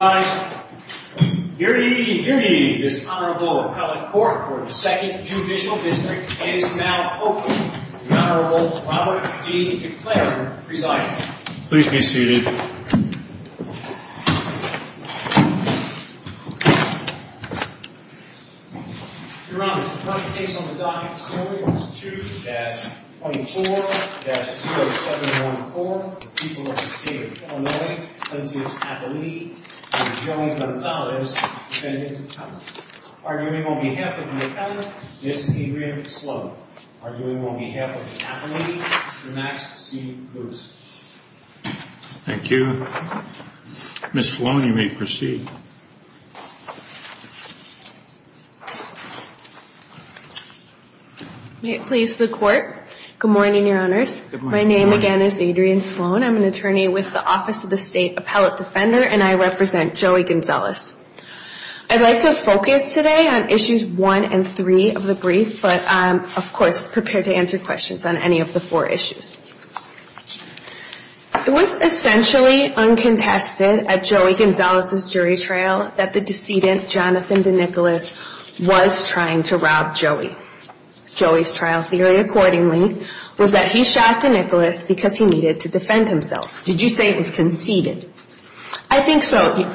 I hear me hear me. This honorable appellate court for the Second Judicial District is now open. The Honorable Robert D. DeClaire presiding. Please be seated. Your Honor, the current case on the docket this morning is 2-24-0714, for the people of the state of Illinois, Plaintiff's Appellee, Mr. Joey Gonzalez, defendant to the charge. Arguing on behalf of the defendant, Ms. Adrienne Sloan. Arguing on behalf of the appellee, Mr. Max C. Lewis. Thank you. Ms. Sloan, you may proceed. May it please the court. Good morning, Your Honors. My name again is Adrienne Sloan. I'm an attorney with the Office of the State Appellate Defender, and I represent Joey Gonzalez. I'd like to focus today on issues 1 and 3 of the brief, but I'm, of course, prepared to answer questions on any of the four issues. It was essentially uncontested at Joey Gonzalez's jury trial that the decedent, Jonathan DeNicolas, was trying to rob Joey. Joey's trial theory, accordingly, was that he shot DeNicolas because he needed to defend himself. Did you say he's conceited? I think so.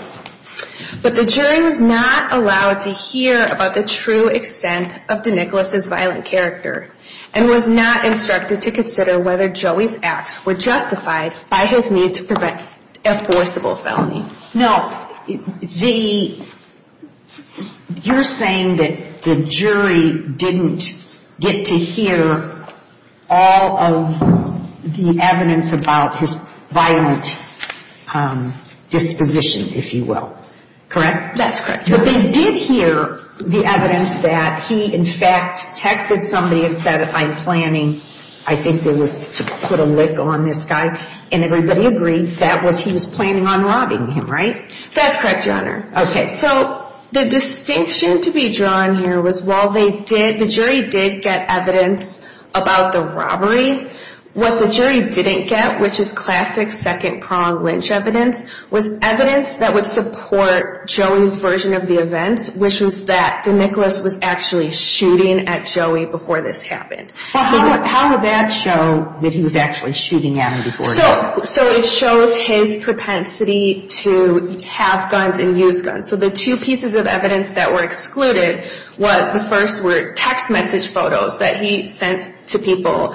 But the jury was not allowed to hear about the true extent of DeNicolas's violent character, and was not instructed to consider whether Joey's acts were justified by his need to prevent a forcible felony. Now, you're saying that the jury didn't get to hear all of the evidence about his violent disposition, if you will. Correct? That's correct. But they did hear the evidence that he, in fact, texted somebody and said, I'm planning, I think, to put a lick on this guy, and everybody agreed that he was planning on robbing him, right? That's correct, Your Honor. Okay, so the distinction to be drawn here was while the jury did get evidence about the robbery, what the jury didn't get, which is classic second-pronged lynch evidence, was evidence that would support Joey's version of the events, which was that DeNicolas was actually shooting at Joey before this happened. How would that show that he was actually shooting at him before? So it shows his propensity to have guns and use guns. So the two pieces of evidence that were excluded was the first were text message photos that he sent to people.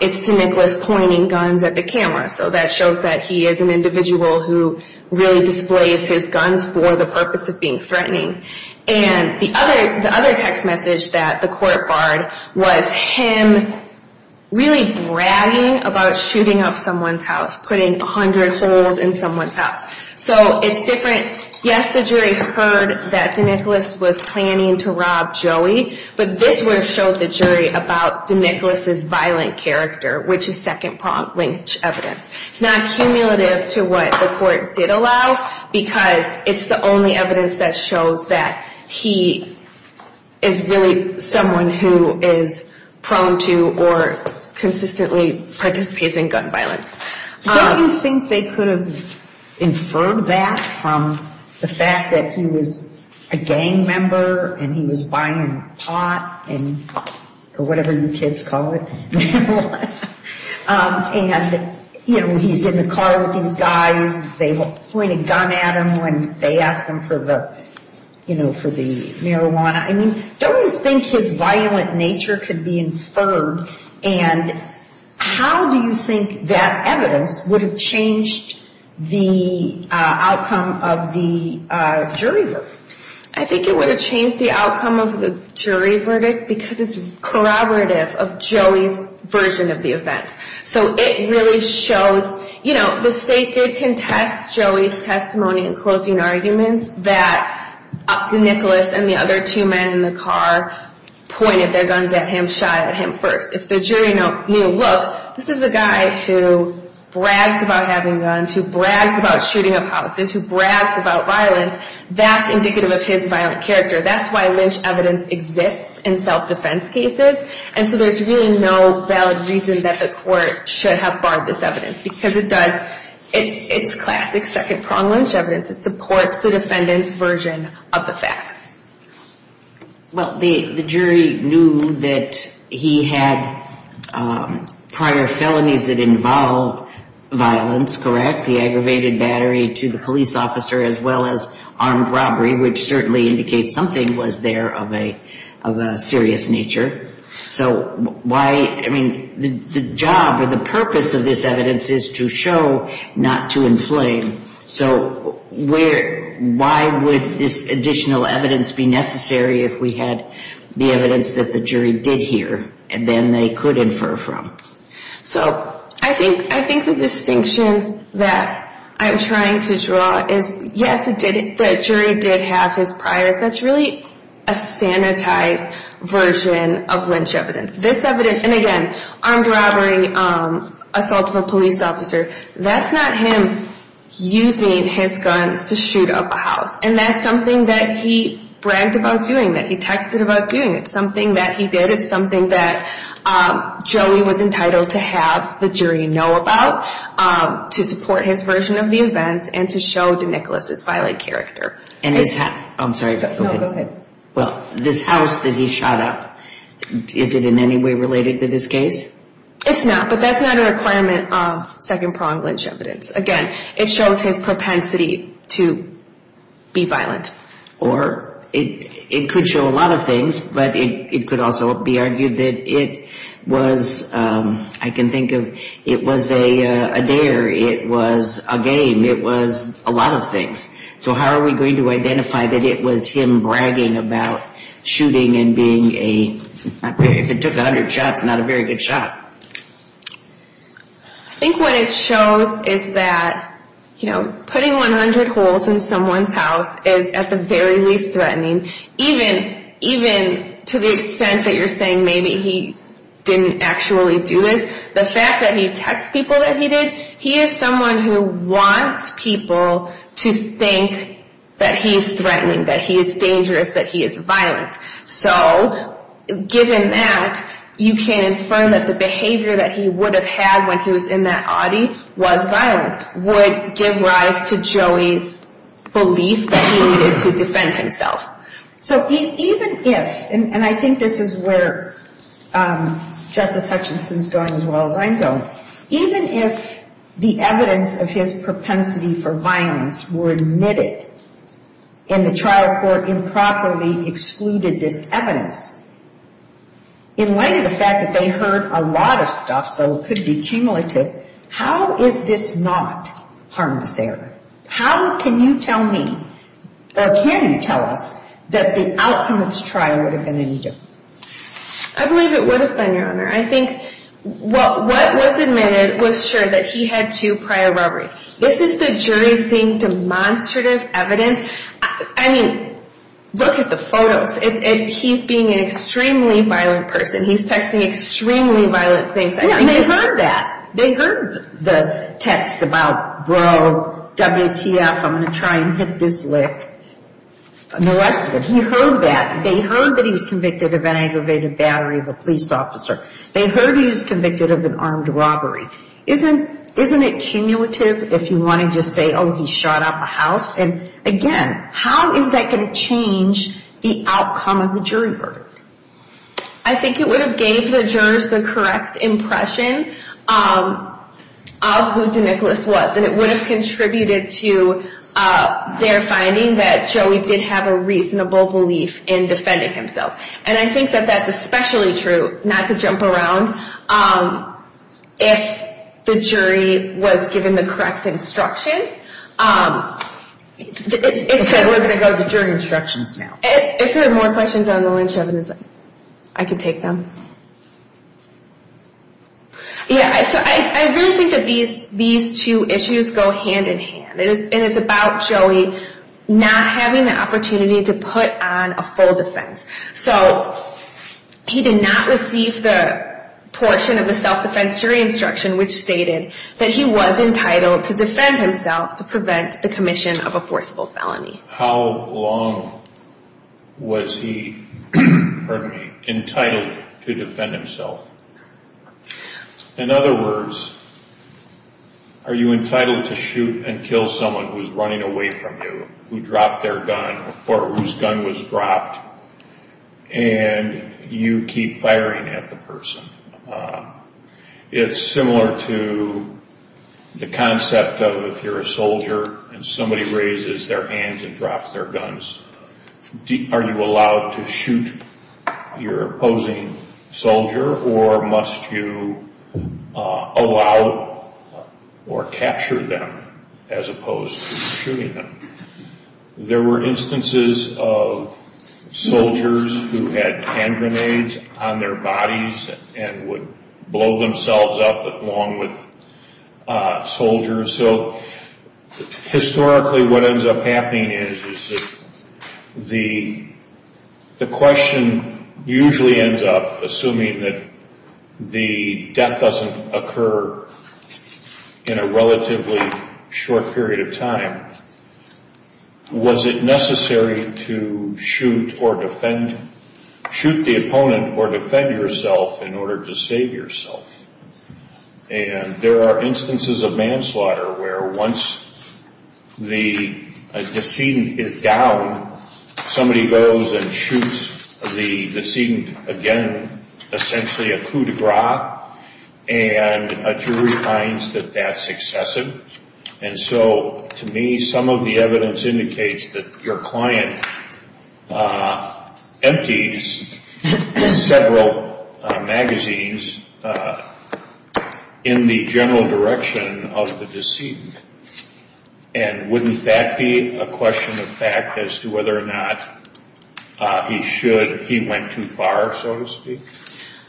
It's DeNicolas pointing guns at the camera. So that shows that he is an individual who really displays his guns for the purpose of being threatening. And the other text message that the court barred was him really bragging about shooting up someone's house, putting 100 holes in someone's house. So it's different. Yes, the jury heard that DeNicolas was planning to rob Joey, but this would have showed the jury about DeNicolas' violent character, which is second-pronged lynch evidence. It's not cumulative to what the court did allow, because it's the only evidence that shows that he is really someone who is prone to or consistently participates in gun violence. Don't you think they could have inferred that from the fact that he was a gang member and he was buying pot or whatever you kids call it, and he's in the car with these guys. They point a gun at him when they ask him for the marijuana. I mean, don't you think his violent nature could be inferred? And how do you think that evidence would have changed the outcome of the jury verdict? I think it would have changed the outcome of the jury verdict because it's corroborative of Joey's version of the events. So it really shows, you know, the state did contest Joey's testimony in closing arguments that DeNicolas and the other two men in the car pointed their guns at him, pointed a gun at him first. If the jury knew, look, this is a guy who brags about having guns, who brags about shooting a policeman, who brags about violence, that's indicative of his violent character. That's why lynch evidence exists in self-defense cases. And so there's really no valid reason that the court should have barred this evidence because it does, it's classic second-pronged lynch evidence. It supports the defendant's version of the facts. Well, the jury knew that he had prior felonies that involved violence, correct, the aggravated battery to the police officer as well as armed robbery, which certainly indicates something was there of a serious nature. So why, I mean, the job or the purpose of this evidence is to show not to inflame. So why would this additional evidence be necessary if we had the evidence that the jury did hear and then they could infer from? So I think the distinction that I'm trying to draw is, yes, the jury did have his priors. That's really a sanitized version of lynch evidence. This evidence, and again, armed robbery, assault of a police officer, that's not him using his guns to shoot up a house. And that's something that he bragged about doing, that he texted about doing. It's something that he did. It's something that Joey was entitled to have the jury know about to support his version of the events and to show DeNicholas' violent character. I'm sorry, go ahead. No, go ahead. Well, this house that he shot up, is it in any way related to this case? It's not, but that's not a requirement of second-pronged lynch evidence. Again, it shows his propensity to be violent. Or it could show a lot of things, but it could also be argued that it was, I can think of, it was a dare, it was a game, it was a lot of things. So how are we going to identify that it was him bragging about shooting and being a, if it took 100 shots, not a very good shot. I think what it shows is that, you know, putting 100 holes in someone's house is at the very least threatening, even to the extent that you're saying maybe he didn't actually do this. The fact that he texts people that he did, he is someone who wants people to think that he is threatening, that he is dangerous, that he is violent. So given that, you can infer that the behavior that he would have had when he was in that Audi was violent, would give rise to Joey's belief that he needed to defend himself. So even if, and I think this is where Justice Hutchinson is going as well as I'm going, even if the evidence of his propensity for violence were admitted, and the trial court improperly excluded this evidence, in light of the fact that they heard a lot of stuff so it could be cumulative, how is this not harmless error? How can you tell me, or can you tell us, that the outcome of this trial would have been any different? I believe it would have been, Your Honor. I think what was admitted was sure that he had two prior robberies. This is the jury seeing demonstrative evidence. I mean, look at the photos. He's being an extremely violent person. He's texting extremely violent things. Yeah, and they heard that. They heard the text about, bro, WTF, I'm going to try and hit this lick. The rest of it, he heard that. They heard that he was convicted of an aggravated battery of a police officer. They heard he was convicted of an armed robbery. Isn't it cumulative if you want to just say, oh, he shot up a house? And, again, how is that going to change the outcome of the jury verdict? I think it would have gave the jurors the correct impression of who DeNicholas was, and it would have contributed to their finding that Joey did have a reasonable belief in defending himself. And I think that that's especially true, not to jump around, if the jury was given the correct instructions. We're going to go to the jury instructions now. If there are more questions on the lynch evidence, I can take them. Yeah, so I really think that these two issues go hand-in-hand, and it's about Joey not having the opportunity to put on a full defense. So he did not receive the portion of the self-defense jury instruction which stated that he was entitled to defend himself to prevent the commission of a forcible felony. How long was he entitled to defend himself? In other words, are you entitled to shoot and kill someone who is running away from you, who dropped their gun or whose gun was dropped, and you keep firing at the person? It's similar to the concept of if you're a soldier and somebody raises their hands and drops their guns, are you allowed to shoot your opposing soldier, or must you allow or capture them as opposed to shooting them? There were instances of soldiers who had hand grenades on their bodies and would blow themselves up along with soldiers. Historically, what ends up happening is the question usually ends up, assuming that the death doesn't occur in a relatively short period of time, was it necessary to shoot the opponent or defend yourself in order to save yourself? There are instances of manslaughter where once the decedent is down, somebody goes and shoots the decedent again, essentially a coup de grace, and a jury finds that that's excessive. To me, some of the evidence indicates that your client empties several magazines in the general direction of the decedent. Wouldn't that be a question of fact as to whether or not he went too far, so to speak?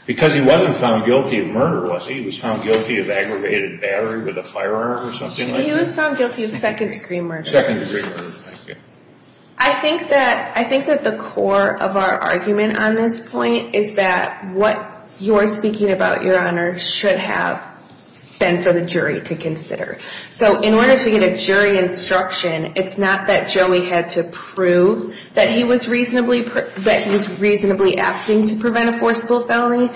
Because he wasn't found guilty of murder, was he? He was found guilty of aggravated battery with a firearm or something like that? He was found guilty of second-degree murder. Second-degree murder, thank you. I think that the core of our argument on this point is that what you're speaking about, Your Honor, should have been for the jury to consider. So in order to get a jury instruction, it's not that Joey had to prove that he was reasonably acting to prevent a forcible felony.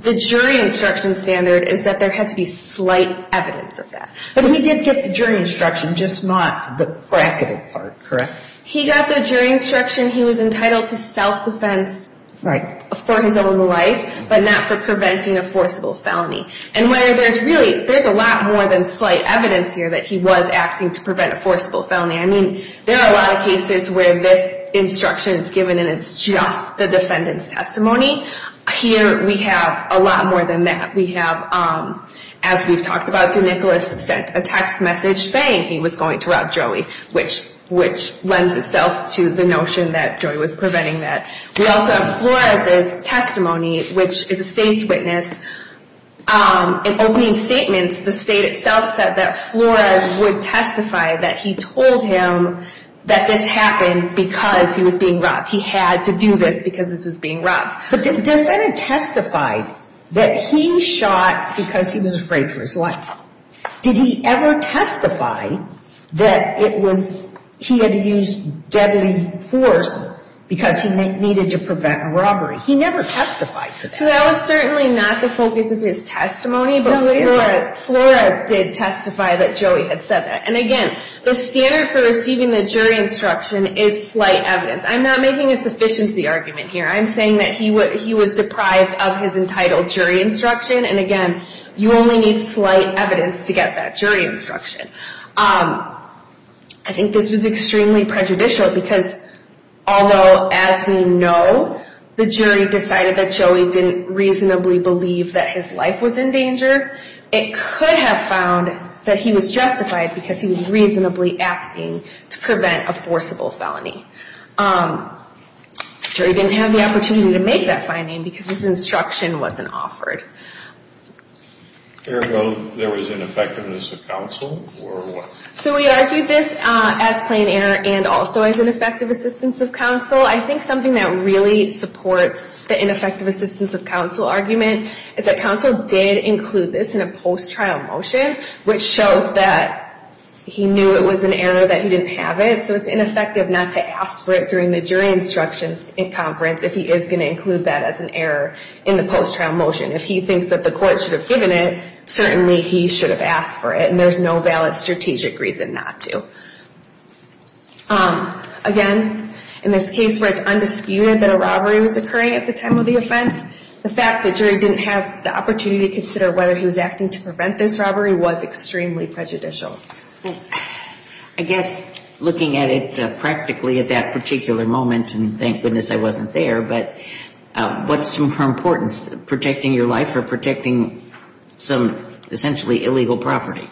The jury instruction standard is that there had to be slight evidence of that. But he did get the jury instruction, just not the bracketed part, correct? He got the jury instruction. He was entitled to self-defense for his own life, but not for preventing a forcible felony. And where there's really a lot more than slight evidence here that he was acting to prevent a forcible felony. I mean, there are a lot of cases where this instruction is given and it's just the defendant's testimony. Here we have a lot more than that. We have, as we've talked about, DeNicholas sent a text message saying he was going to rob Joey, which lends itself to the notion that Joey was preventing that. We also have Flores' testimony, which is a state's witness. In opening statements, the state itself said that Flores would testify that he told him that this happened because he was being robbed. He had to do this because this was being robbed. But the defendant testified that he shot because he was afraid for his life. Did he ever testify that he had used deadly force because he needed to prevent a robbery? He never testified to that. That was certainly not the focus of his testimony, but Flores did testify that Joey had said that. And again, the standard for receiving the jury instruction is slight evidence. I'm not making a sufficiency argument here. I'm saying that he was deprived of his entitled jury instruction. And again, you only need slight evidence to get that jury instruction. I think this was extremely prejudicial because although, as we know, the jury decided that Joey didn't reasonably believe that his life was in danger, it could have found that he was justified because he was reasonably acting to prevent a forcible felony. The jury didn't have the opportunity to make that finding because his instruction wasn't offered. Ergo, there was ineffectiveness of counsel? So we argued this as plain error and also as ineffective assistance of counsel. I think something that really supports the ineffective assistance of counsel argument is that counsel did include this in a post-trial motion, which shows that he knew it was an error that he didn't have it. So it's ineffective not to ask for it during the jury instruction conference if he is going to include that as an error in the post-trial motion. If he thinks that the court should have given it, certainly he should have asked for it, and there's no valid strategic reason not to. Again, in this case where it's undisputed that a robbery was occurring at the time of the offense, the fact that jury didn't have the opportunity to consider whether he was acting to prevent this robbery was extremely prejudicial. I guess looking at it practically at that particular moment, and thank goodness I wasn't there, but what's more important, protecting your life or protecting some essentially illegal property?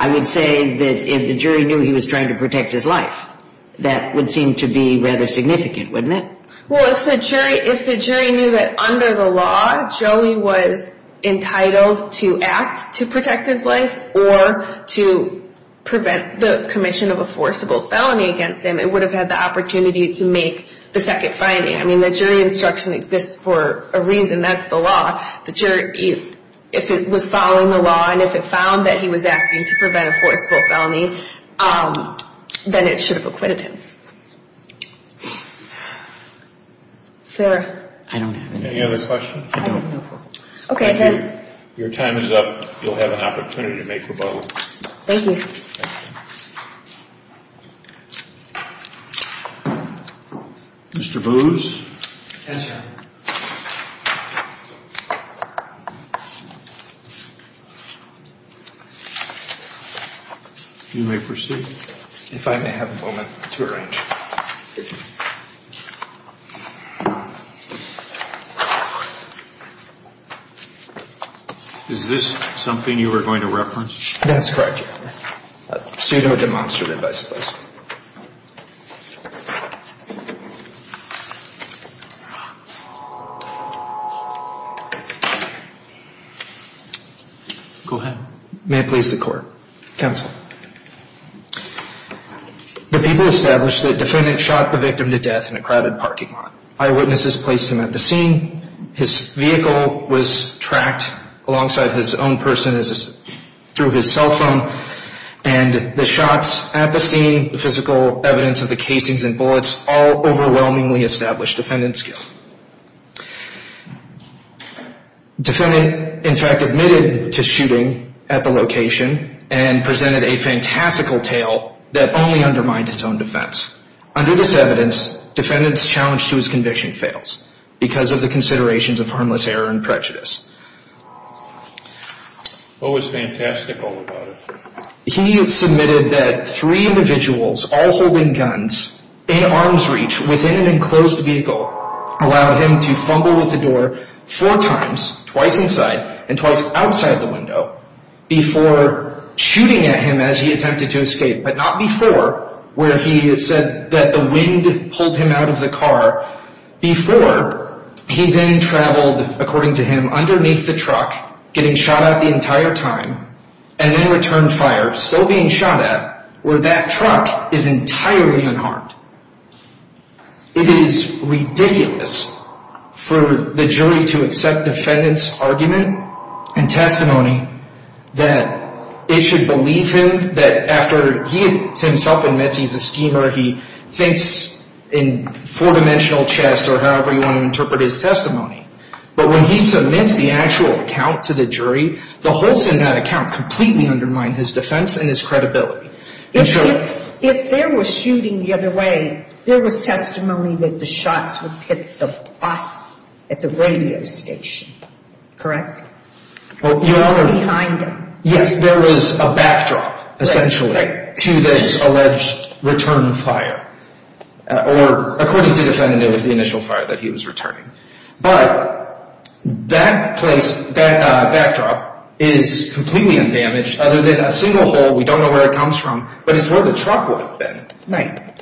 I would say that if the jury knew he was trying to protect his life, that would seem to be rather significant, wouldn't it? Well, if the jury knew that under the law, Joey was entitled to act to protect his life or to prevent the commission of a forcible felony against him, it would have had the opportunity to make the second finding. I mean, the jury instruction exists for a reason. That's the law. If it was following the law and if it found that he was acting to prevent a forcible felony, then it should have acquitted him. Sir? I don't have any. Any other questions? I don't. Okay, then. Your time is up. You'll have an opportunity to make rebuttals. Thank you. Mr. Booz? Yes, sir. You may proceed. If I may have a moment to arrange. Is this something you were going to reference? That's correct, Your Honor. Pseudo-demonstrative, I suppose. Go ahead. May it please the court. The people established that the defendant shot the victim to death in a crowded parking lot. Eyewitnesses placed him at the scene. His vehicle was tracked alongside his own person through his cell phone. And the shots at the scene, the physical evidence of the casings and bullets, all overwhelmingly established defendant's skill. Defendant, in fact, admitted to shooting at the location and presented a fantastical tale that only undermined his own defense. Under this evidence, defendant's challenge to his conviction fails because of the considerations of harmless error and prejudice. What was fantastical about it? He submitted that three individuals, all holding guns, in arm's reach, within an enclosed vehicle, allowed him to fumble with the door four times, twice inside and twice outside the window, before shooting at him as he attempted to escape, but not before, where he said that the wind pulled him out of the car, before he then traveled, according to him, underneath the truck, getting shot at the entire time, and then returned fire, still being shot at, where that truck is entirely unharmed. It is ridiculous for the jury to accept defendant's argument and testimony that it should believe him that after he himself admits he's a schemer, he thinks in four-dimensional chess or however you want to interpret his testimony, but when he submits the actual account to the jury, the holes in that account completely undermine his defense and his credibility. If there was shooting the other way, there was testimony that the shots would hit the bus at the radio station, correct? Or behind him. Yes, there was a backdrop, essentially, to this alleged return fire. Or, according to the defendant, it was the initial fire that he was returning. But, that backdrop is completely undamaged, other than a single hole, we don't know where it comes from, but it's where the truck would have been.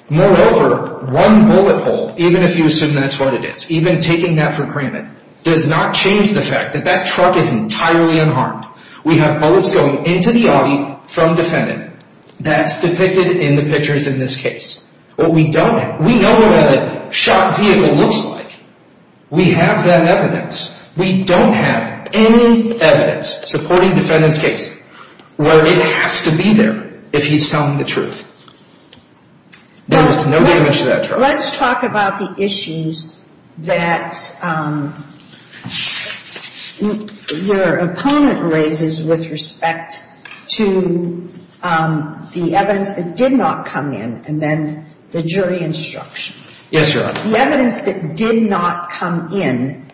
Moreover, one bullet hole, even if you assume that's what it is, even taking that for granted, does not change the fact that that truck is entirely unharmed. We have bullets going into the Audi from the defendant. That's depicted in the pictures in this case. We know what a shot vehicle looks like. We have that evidence. We don't have any evidence supporting the defendant's case where it has to be there if he's telling the truth. There was no damage to that truck. Let's talk about the issues that your opponent raises with respect to the evidence that did not come in, and then the jury instructions. Yes, Your Honor. The evidence that did not come in,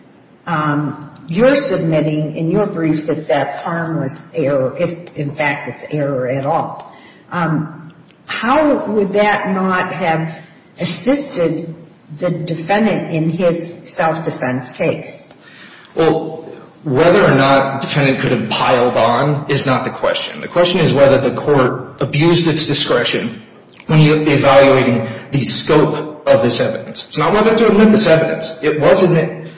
you're submitting in your brief that that's harmless error, if, in fact, it's error at all. How would that not have assisted the defendant in his self-defense case? Well, whether or not the defendant could have piled on is not the question. The question is whether the court abused its discretion when evaluating the scope of this evidence. It's not whether to admit this evidence. It was admitted.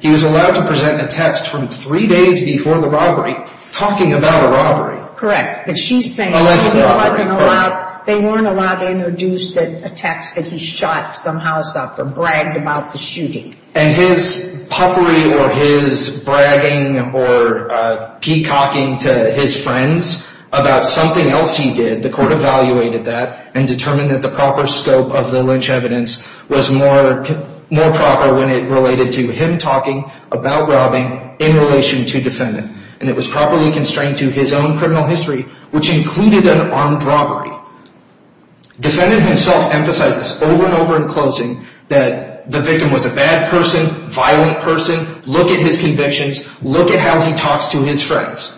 He was allowed to present a text from three days before the robbery talking about a robbery. Correct. But she's saying they weren't allowed to introduce a text that he shot some house up or bragged about the shooting. And his puffery or his bragging or peacocking to his friends about something else he did, the court evaluated that and determined that the proper scope of the lynch evidence was more proper when it related to him talking about robbing in relation to defendant. And it was properly constrained to his own criminal history, which included an armed robbery. Defendant himself emphasized this over and over in closing that the victim was a bad person, violent person. Look at his convictions. Look at how he talks to his friends.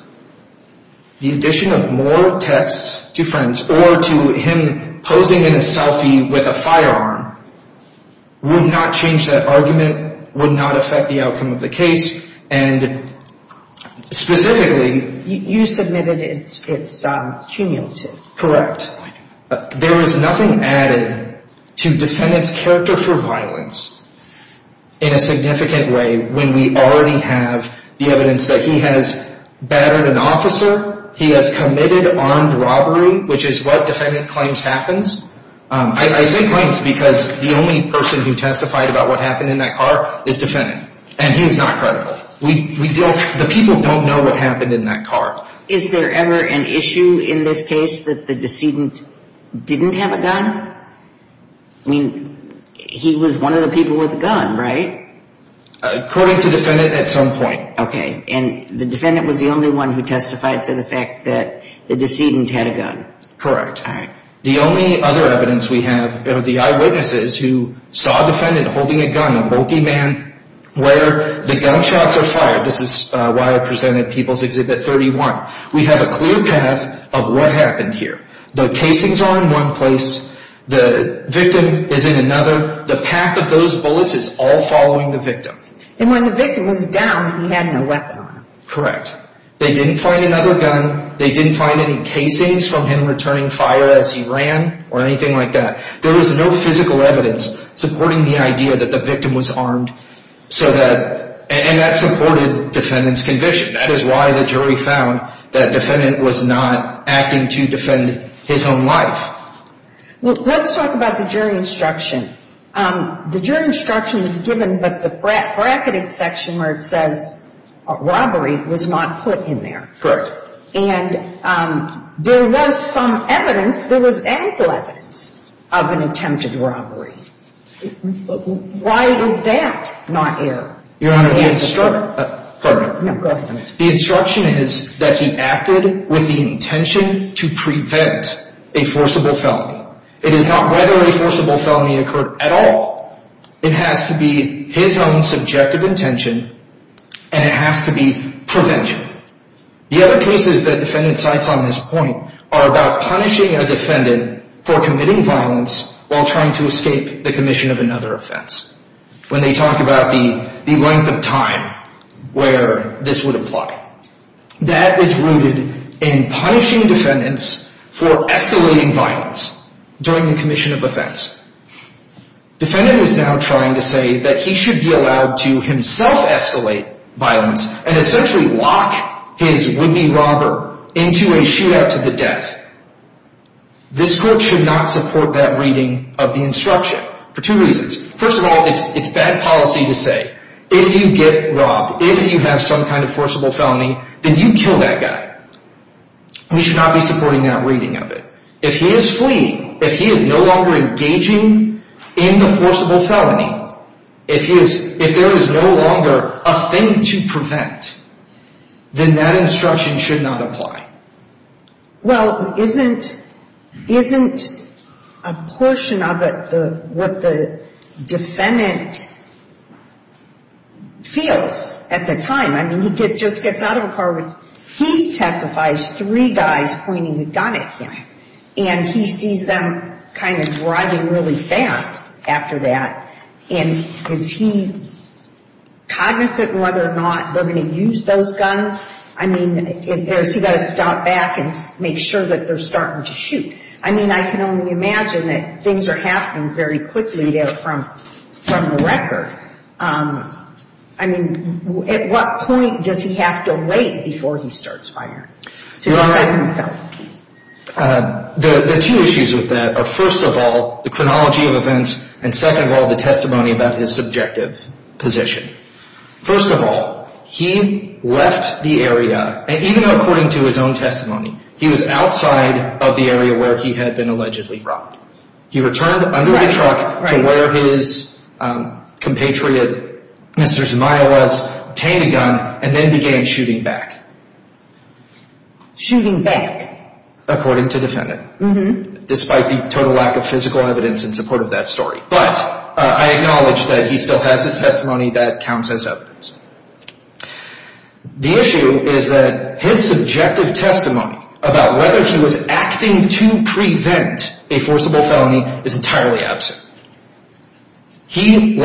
The addition of moral texts to friends or to him posing in a selfie with a firearm would not change that argument, would not affect the outcome of the case. And specifically... You submitted it's cumulative. Correct. There is nothing added to defendant's character for violence in a significant way when we already have the evidence that he has battered an officer, he has committed armed robbery, which is what defendant claims happens. I say claims because the only person who testified about what happened in that car is defendant. And he's not credible. The people don't know what happened in that car. Is there ever an issue in this case that the decedent didn't have a gun? I mean, he was one of the people with a gun, right? According to defendant, at some point. Okay. And the defendant was the only one who testified to the fact that the decedent had a gun. All right. The only other evidence we have are the eyewitnesses who saw defendant holding a gun, a bulky man, where the gunshots are fired. This is why I presented People's Exhibit 31. We have a clear path of what happened here. The casings are in one place. The victim is in another. The pack of those bullets is all following the victim. And when the victim was down, he had no weapon on him. Correct. They didn't find another gun. They didn't find any casings from him returning fire as he ran or anything like that. There was no physical evidence supporting the idea that the victim was armed. And that supported defendant's conviction. That is why the jury found that defendant was not acting to defend his own life. Let's talk about the jury instruction. The jury instruction is given, but the bracketed section where it says robbery was not put in there. Correct. And there was some evidence, there was ample evidence of an attempted robbery. Why was that not aired? Your Honor, the instruction is that he acted with the intention to prevent a forcible felony. It is not whether a forcible felony occurred at all. It has to be his own subjective intention, and it has to be prevention. The other cases that defendant cites on this point are about punishing a defendant for committing violence while trying to escape the commission of another offense. When they talk about the length of time where this would apply. That is rooted in punishing defendants for escalating violence during the commission of offense. Defendant is now trying to say that he should be allowed to himself escalate violence and essentially lock his would-be robber into a shootout to the death. This court should not support that reading of the instruction for two reasons. First of all, it is bad policy to say, if you get robbed, if you have some kind of forcible felony, then you kill that guy. We should not be supporting that reading of it. If he is fleeing, if he is no longer engaging in the forcible felony, if there is no longer a thing to prevent, then that instruction should not apply. Well, isn't a portion of it what the defendant feels at the time? I mean, he just gets out of a car. He testifies, three guys pointing a gun at him. And he sees them kind of driving really fast after that. And is he cognizant whether or not they're going to use those guns? I mean, has he got to stop back and make sure that they're starting to shoot? I mean, I can only imagine that things are happening very quickly there from the record. I mean, at what point does he have to wait before he starts firing to defend himself? The two issues with that are, first of all, the chronology of events, and second of all, the testimony about his subjective position. First of all, he left the area, and even according to his own testimony, he was outside of the area where he had been allegedly robbed. He returned under a truck to where his compatriot, Mr. Zmaja, was, obtained a gun, and then began shooting back. Shooting back? According to the defendant, despite the total lack of physical evidence in support of that story. But I acknowledge that he still has his testimony that counts as evidence. The issue is that his subjective testimony about whether he was acting to prevent a forcible felony is entirely absent. He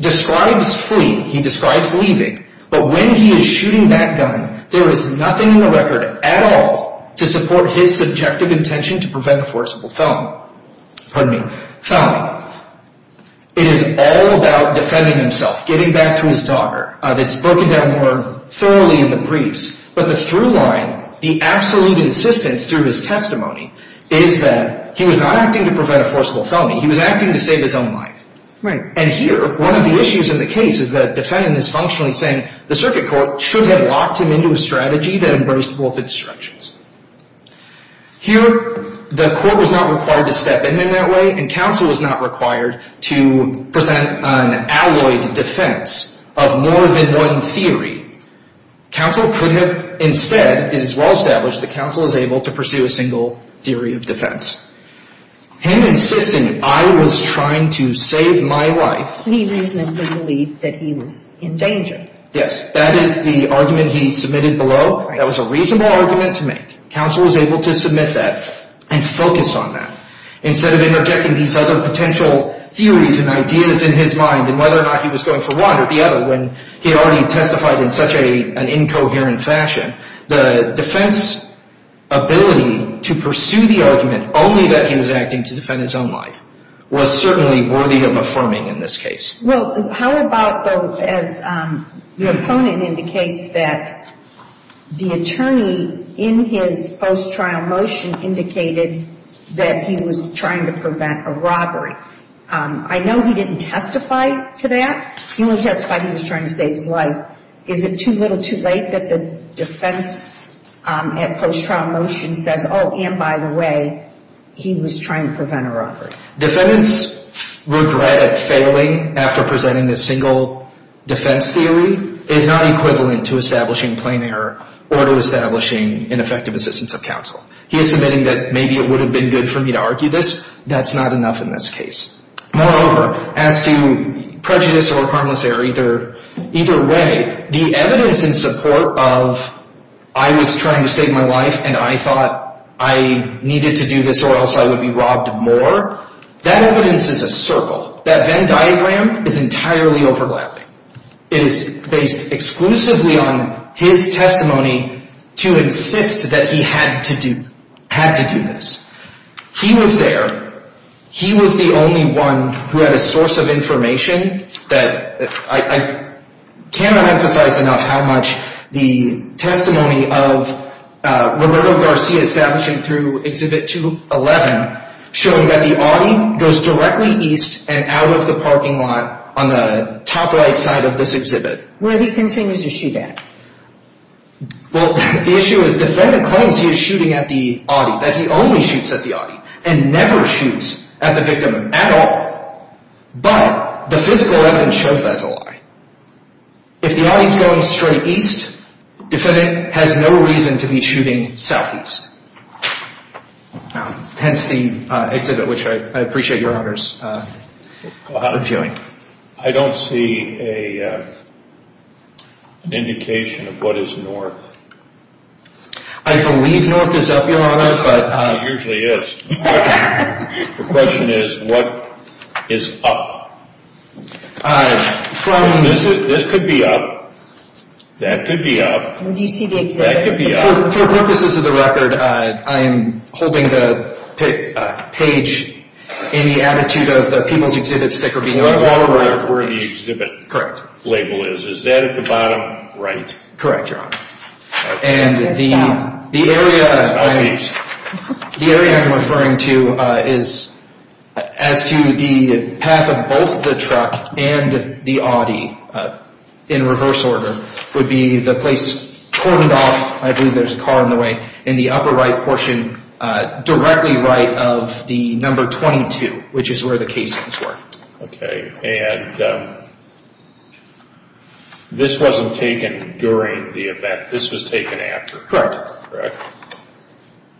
describes fleeing, he describes leaving, but when he is shooting that gun, there is nothing in the record at all to support his subjective intention to prevent a forcible felony. It is all about defending himself, getting back to his daughter. It's broken down more thoroughly in the briefs. But the through line, the absolute insistence through his testimony, is that he was not acting to prevent a forcible felony. He was acting to save his own life. And here, one of the issues in the case is that the defendant is functionally saying the circuit court should have locked him into a strategy that embraced both instructions. Here, the court was not required to step in in that way, and counsel was not required to present an alloyed defense of more than one theory. Counsel could have instead, it is well established that counsel is able to pursue a single theory of defense. Him insisting, I was trying to save my life. He reasonably believed that he was in danger. Yes, that is the argument he submitted below. That was a reasonable argument to make. Counsel was able to submit that and focus on that. Instead of interjecting these other potential theories and ideas in his mind, and whether or not he was going for one or the other, when he had already testified in such an incoherent fashion, the defense ability to pursue the argument only that he was acting to defend his own life was certainly worthy of affirming in this case. Well, how about, though, as your opponent indicates, that the attorney in his post-trial motion indicated that he was trying to prevent a robbery. I know he didn't testify to that. He only testified he was trying to save his life. Is it too little too late that the defense at post-trial motion says, oh, and by the way, he was trying to prevent a robbery? Defendants' regret at failing after presenting this single defense theory is not equivalent to establishing plain error or to establishing ineffective assistance of counsel. He is submitting that maybe it would have been good for me to argue this. That's not enough in this case. Moreover, as to prejudice or harmless error, either way, the evidence in support of I was trying to save my life and I thought I needed to do this or else I would be robbed more, that evidence is a circle. That Venn diagram is entirely overlapping. It is based exclusively on his testimony to insist that he had to do this. He was there. He was the only one who had a source of information that I cannot emphasize enough how much the testimony of Roberto Garcia establishing through Exhibit 211 showing that the Audi goes directly east and out of the parking lot on the top right side of this exhibit. Where he continues to shoot at? Well, the issue is defendant claims he is shooting at the Audi, that he only shoots at the Audi and never shoots at the victim at all, but the physical evidence shows that's a lie. If the Audi is going straight east, the defendant has no reason to be shooting southeast. Hence the exhibit, which I appreciate Your Honor's viewing. I don't see an indication of what is north. I believe north is up, Your Honor. It usually is. The question is what is up? This could be up. That could be up. That could be up. For purposes of the record, I am holding the page in the attitude of the People's Exhibit sticker being on the bottom right of the page. Where the exhibit label is. Is that at the bottom right? Correct, Your Honor. And the area I am referring to is as to the path of both the truck and the Audi in reverse order, would be the place cordoned off, I believe there is a car in the way, in the upper right portion, directly right of the number 22, which is where the casings were. Okay. And this wasn't taken during the event. This was taken after. Correct.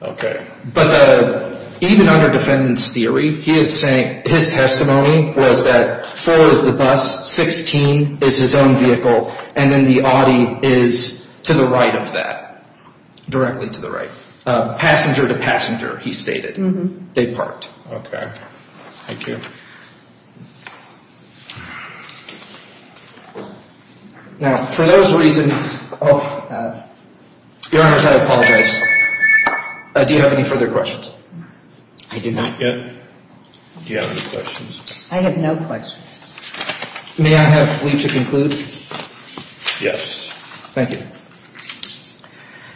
Okay. But even under defendant's theory, his testimony was that 4 is the bus, 16 is his own vehicle, and then the Audi is to the right of that, directly to the right. Passenger to passenger, he stated. They parked. Okay. Thank you. Now, for those reasons, Your Honors, I apologize. Do you have any further questions? I do not. Not yet. Do you have any questions? I have no questions. May I have leave to conclude? Yes. Thank you.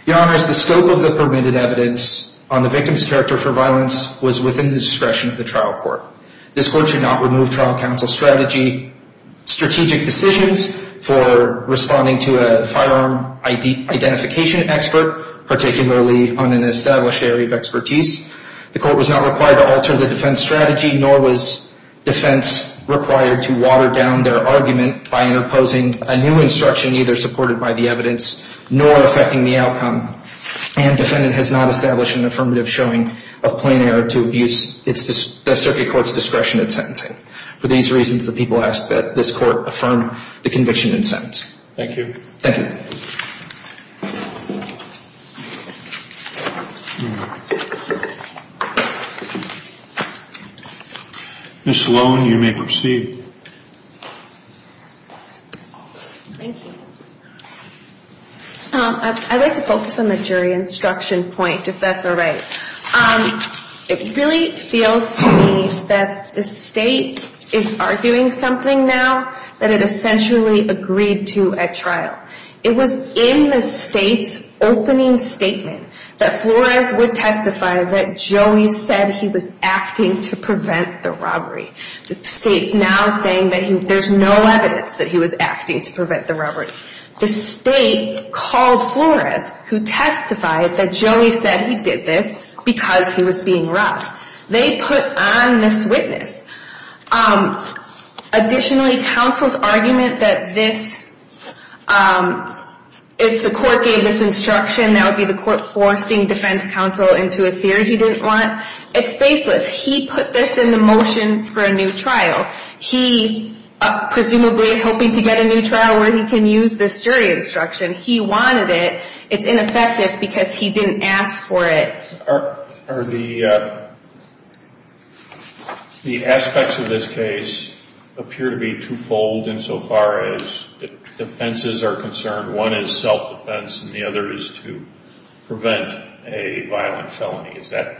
Your Honors, the scope of the permitted evidence on the victim's character for violence was within the discretion of the trial court. This court should not remove trial counsel's strategic decisions for responding to a firearm identification expert, particularly on an established area of expertise. The court was not required to alter the defense strategy, nor was defense required to water down their argument by imposing a new instruction neither supported by the evidence nor affecting the outcome, and defendant has not established an affirmative showing of plain error to abuse the circuit court's discretion in sentencing. For these reasons, the people ask that this court affirm the conviction and sentence. Thank you. Thank you. Ms. Sloan, you may proceed. Thank you. I'd like to focus on the jury instruction point, if that's all right. It really feels to me that the state is arguing something now that it essentially agreed to at trial. It was in the state's opening statement that Flores would testify that Joey said he was acting to prevent the robbery. The state's now saying that there's no evidence that he was acting to prevent the robbery. The state called Flores, who testified that Joey said he did this because he was being robbed. They put on this witness. Additionally, counsel's argument that this, if the court gave this instruction, that would be the court forcing defense counsel into a theory he didn't want, it's faceless. He put this into motion for a new trial. He presumably is hoping to get a new trial where he can use this jury instruction. He wanted it. It's ineffective because he didn't ask for it. Are the aspects of this case appear to be twofold insofar as defenses are concerned? One is self-defense, and the other is to prevent a violent felony. Is that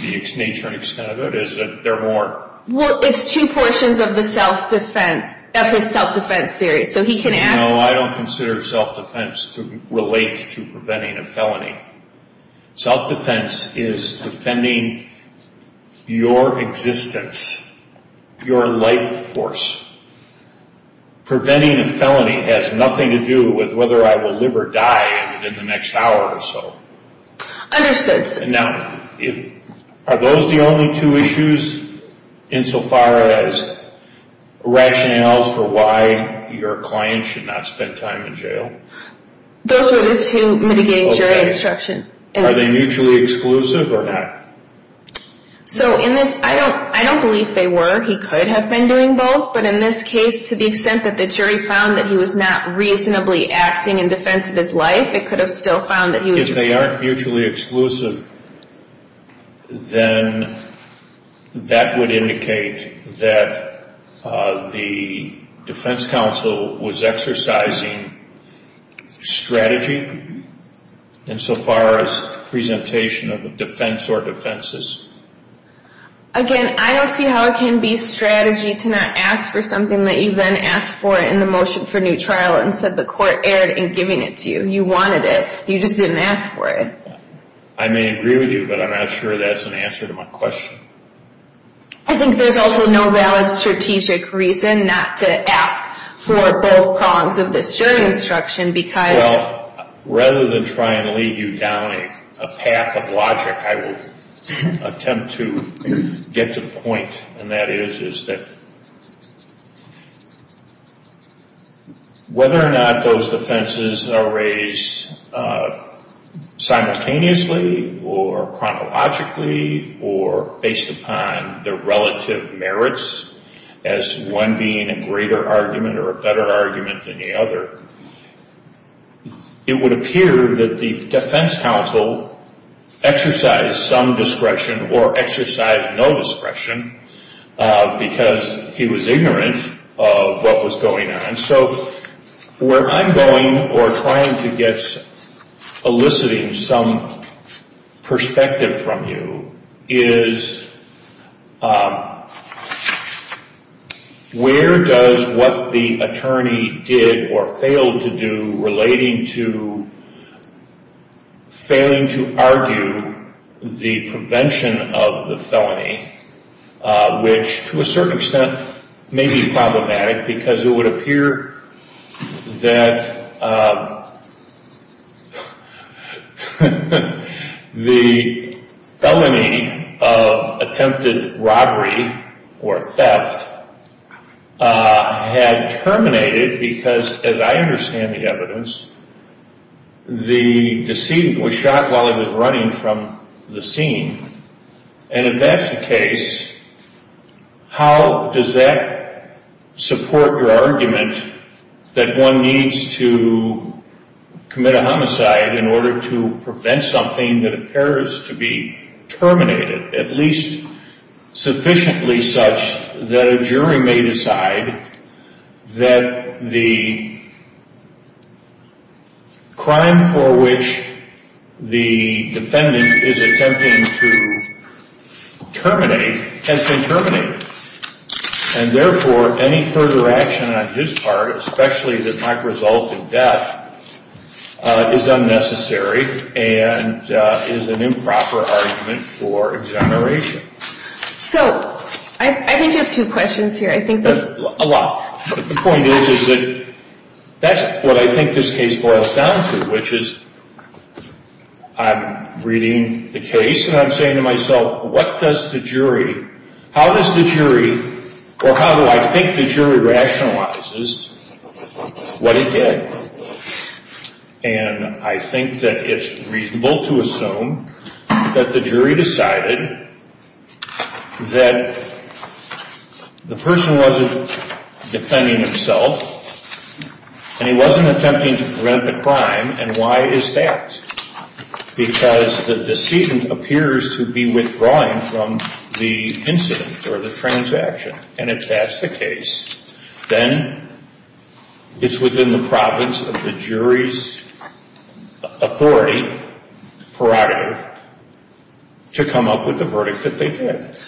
the nature and extent of it, or is there more? Well, it's two portions of his self-defense theory. No, I don't consider self-defense to relate to preventing a felony. Self-defense is defending your existence, your life force. Preventing a felony has nothing to do with whether I will live or die within the next hour or so. Understood. Now, are those the only two issues, insofar as rationales for why your client should not spend time in jail? Those are the two mitigating jury instructions. Are they mutually exclusive or not? I don't believe they were. He could have been doing both, but in this case, to the extent that the jury found that he was not reasonably acting in defense of his life, it could have still found that he was. If they aren't mutually exclusive, then that would indicate that the defense counsel was exercising strategy insofar as presentation of a defense or defenses. Again, I don't see how it can be strategy to not ask for something that you then asked for in the motion for new trial and said the court erred in giving it to you. You wanted it. You just didn't ask for it. I may agree with you, but I'm not sure that's an answer to my question. I think there's also no valid strategic reason not to ask for both prongs of this jury instruction because... Well, rather than try and lead you down a path of logic, I will attempt to get to the point, and that is, that whether or not those defenses are raised simultaneously or chronologically or based upon their relative merits as one being a greater argument or a better argument than the other, it would appear that the defense counsel exercised some discretion or exercised no discretion because he was ignorant of what was going on. So where I'm going, or trying to get eliciting some perspective from you, is where does what the attorney did or failed to do relating to failing to argue the prevention of the felony, which to a certain extent may be problematic because it would appear that the felony of attempted robbery or theft had terminated because, as I understand the evidence, the decedent was shot while he was running from the scene. And if that's the case, how does that support your argument that one needs to commit a homicide in order to prevent something that appears to be terminated, at least sufficiently such that a jury may decide that the crime for which the defendant is attempting to terminate has been terminated and, therefore, any further action on his part, especially that might result in death, is unnecessary and is an improper argument for exoneration. So I think you have two questions here. A lot. The point is that that's what I think this case boils down to, which is I'm reading the case and I'm saying to myself, what does the jury, how does the jury, or how do I think the jury rationalizes what it did? And I think that it's reasonable to assume that the jury decided that the person wasn't defending himself and he wasn't attempting to prevent the crime, and why is that? Because the decedent appears to be withdrawing from the incident or the transaction, and if that's the case, then it's within the province of the jury's authority, prerogative, to come up with the verdict that they did.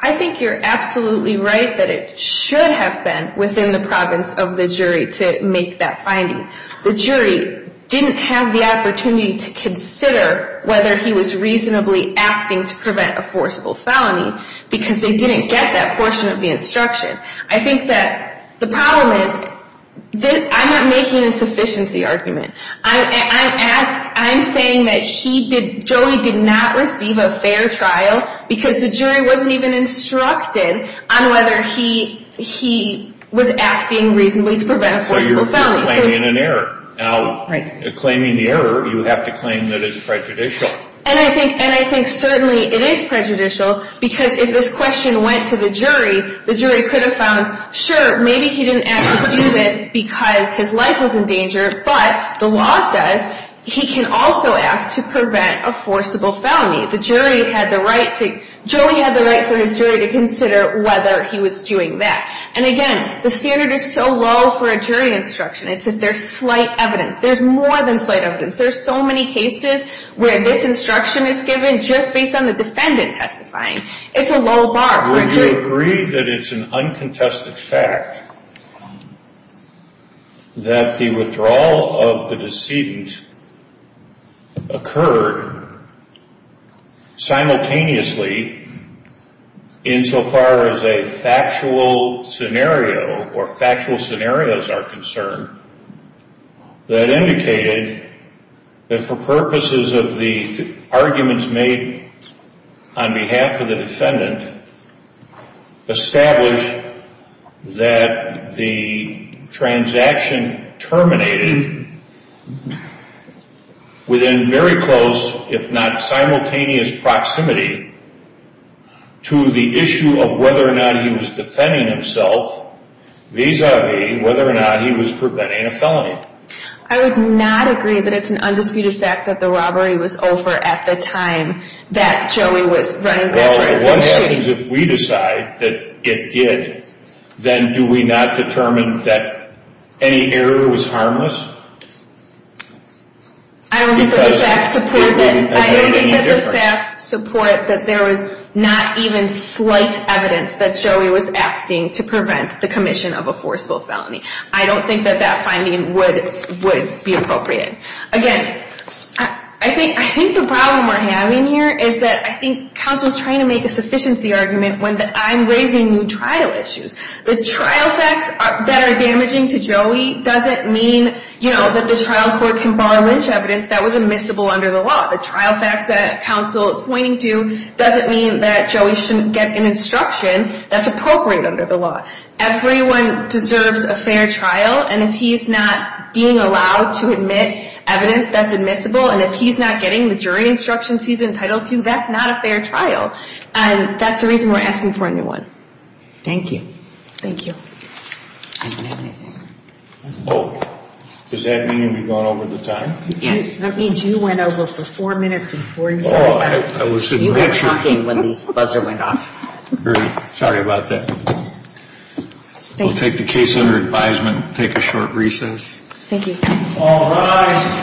I think you're absolutely right that it should have been within the province of the jury to make that finding. The jury didn't have the opportunity to consider whether he was reasonably acting to prevent a forcible felony because they didn't get that portion of the instruction. I think that the problem is I'm not making a sufficiency argument. I'm saying that Joey did not receive a fair trial because the jury wasn't even instructed on whether he was acting reasonably to prevent a forcible felony. So you're claiming an error. Now, claiming the error, you have to claim that it's prejudicial. And I think certainly it is prejudicial because if this question went to the jury, the jury could have found, sure, maybe he didn't have to do this because his life was in danger, but the law says he can also act to prevent a forcible felony. Joey had the right for his jury to consider whether he was doing that. And again, the standard is so low for a jury instruction. It's that there's slight evidence. There's more than slight evidence. There's so many cases where this instruction is given just based on the defendant testifying. It's a low bar for a jury. Would you agree that it's an uncontested fact that the withdrawal of the decedent occurred simultaneously insofar as a factual scenario or factual scenarios are concerned that indicated that for purposes of the arguments made on behalf of the defendant, established that the transaction terminated within very close, if not simultaneous, proximity to the issue of whether or not he was defending himself vis-a-vis whether or not he was preventing a felony? I would not agree that it's an undisputed fact that the robbery was over at the time that Joey was running the place. Well, what happens if we decide that it did, then do we not determine that any error was harmless? I don't think that the facts support that. I don't think that the facts support that there was not even slight evidence that Joey was acting to prevent the commission of a forcible felony. I don't think that that finding would be appropriate. Again, I think the problem we're having here is that I think counsel is trying to make a sufficiency argument when I'm raising new trial issues. The trial facts that are damaging to Joey doesn't mean that the trial court can bar lynch evidence that was admissible under the law. The trial facts that counsel is pointing to doesn't mean that Joey shouldn't get an instruction that's appropriate under the law. Everyone deserves a fair trial, and if he's not being allowed to admit evidence that's admissible, and if he's not getting the jury instructions he's entitled to, that's not a fair trial. And that's the reason we're asking for a new one. Thank you. Thank you. I didn't have anything. Oh, does that mean we've gone over the time? Yes. That means you went over for four minutes and 48 seconds. You were talking when the buzzer went off. Sorry about that. We'll take the case under advisement and take a short recess. Thank you. All rise.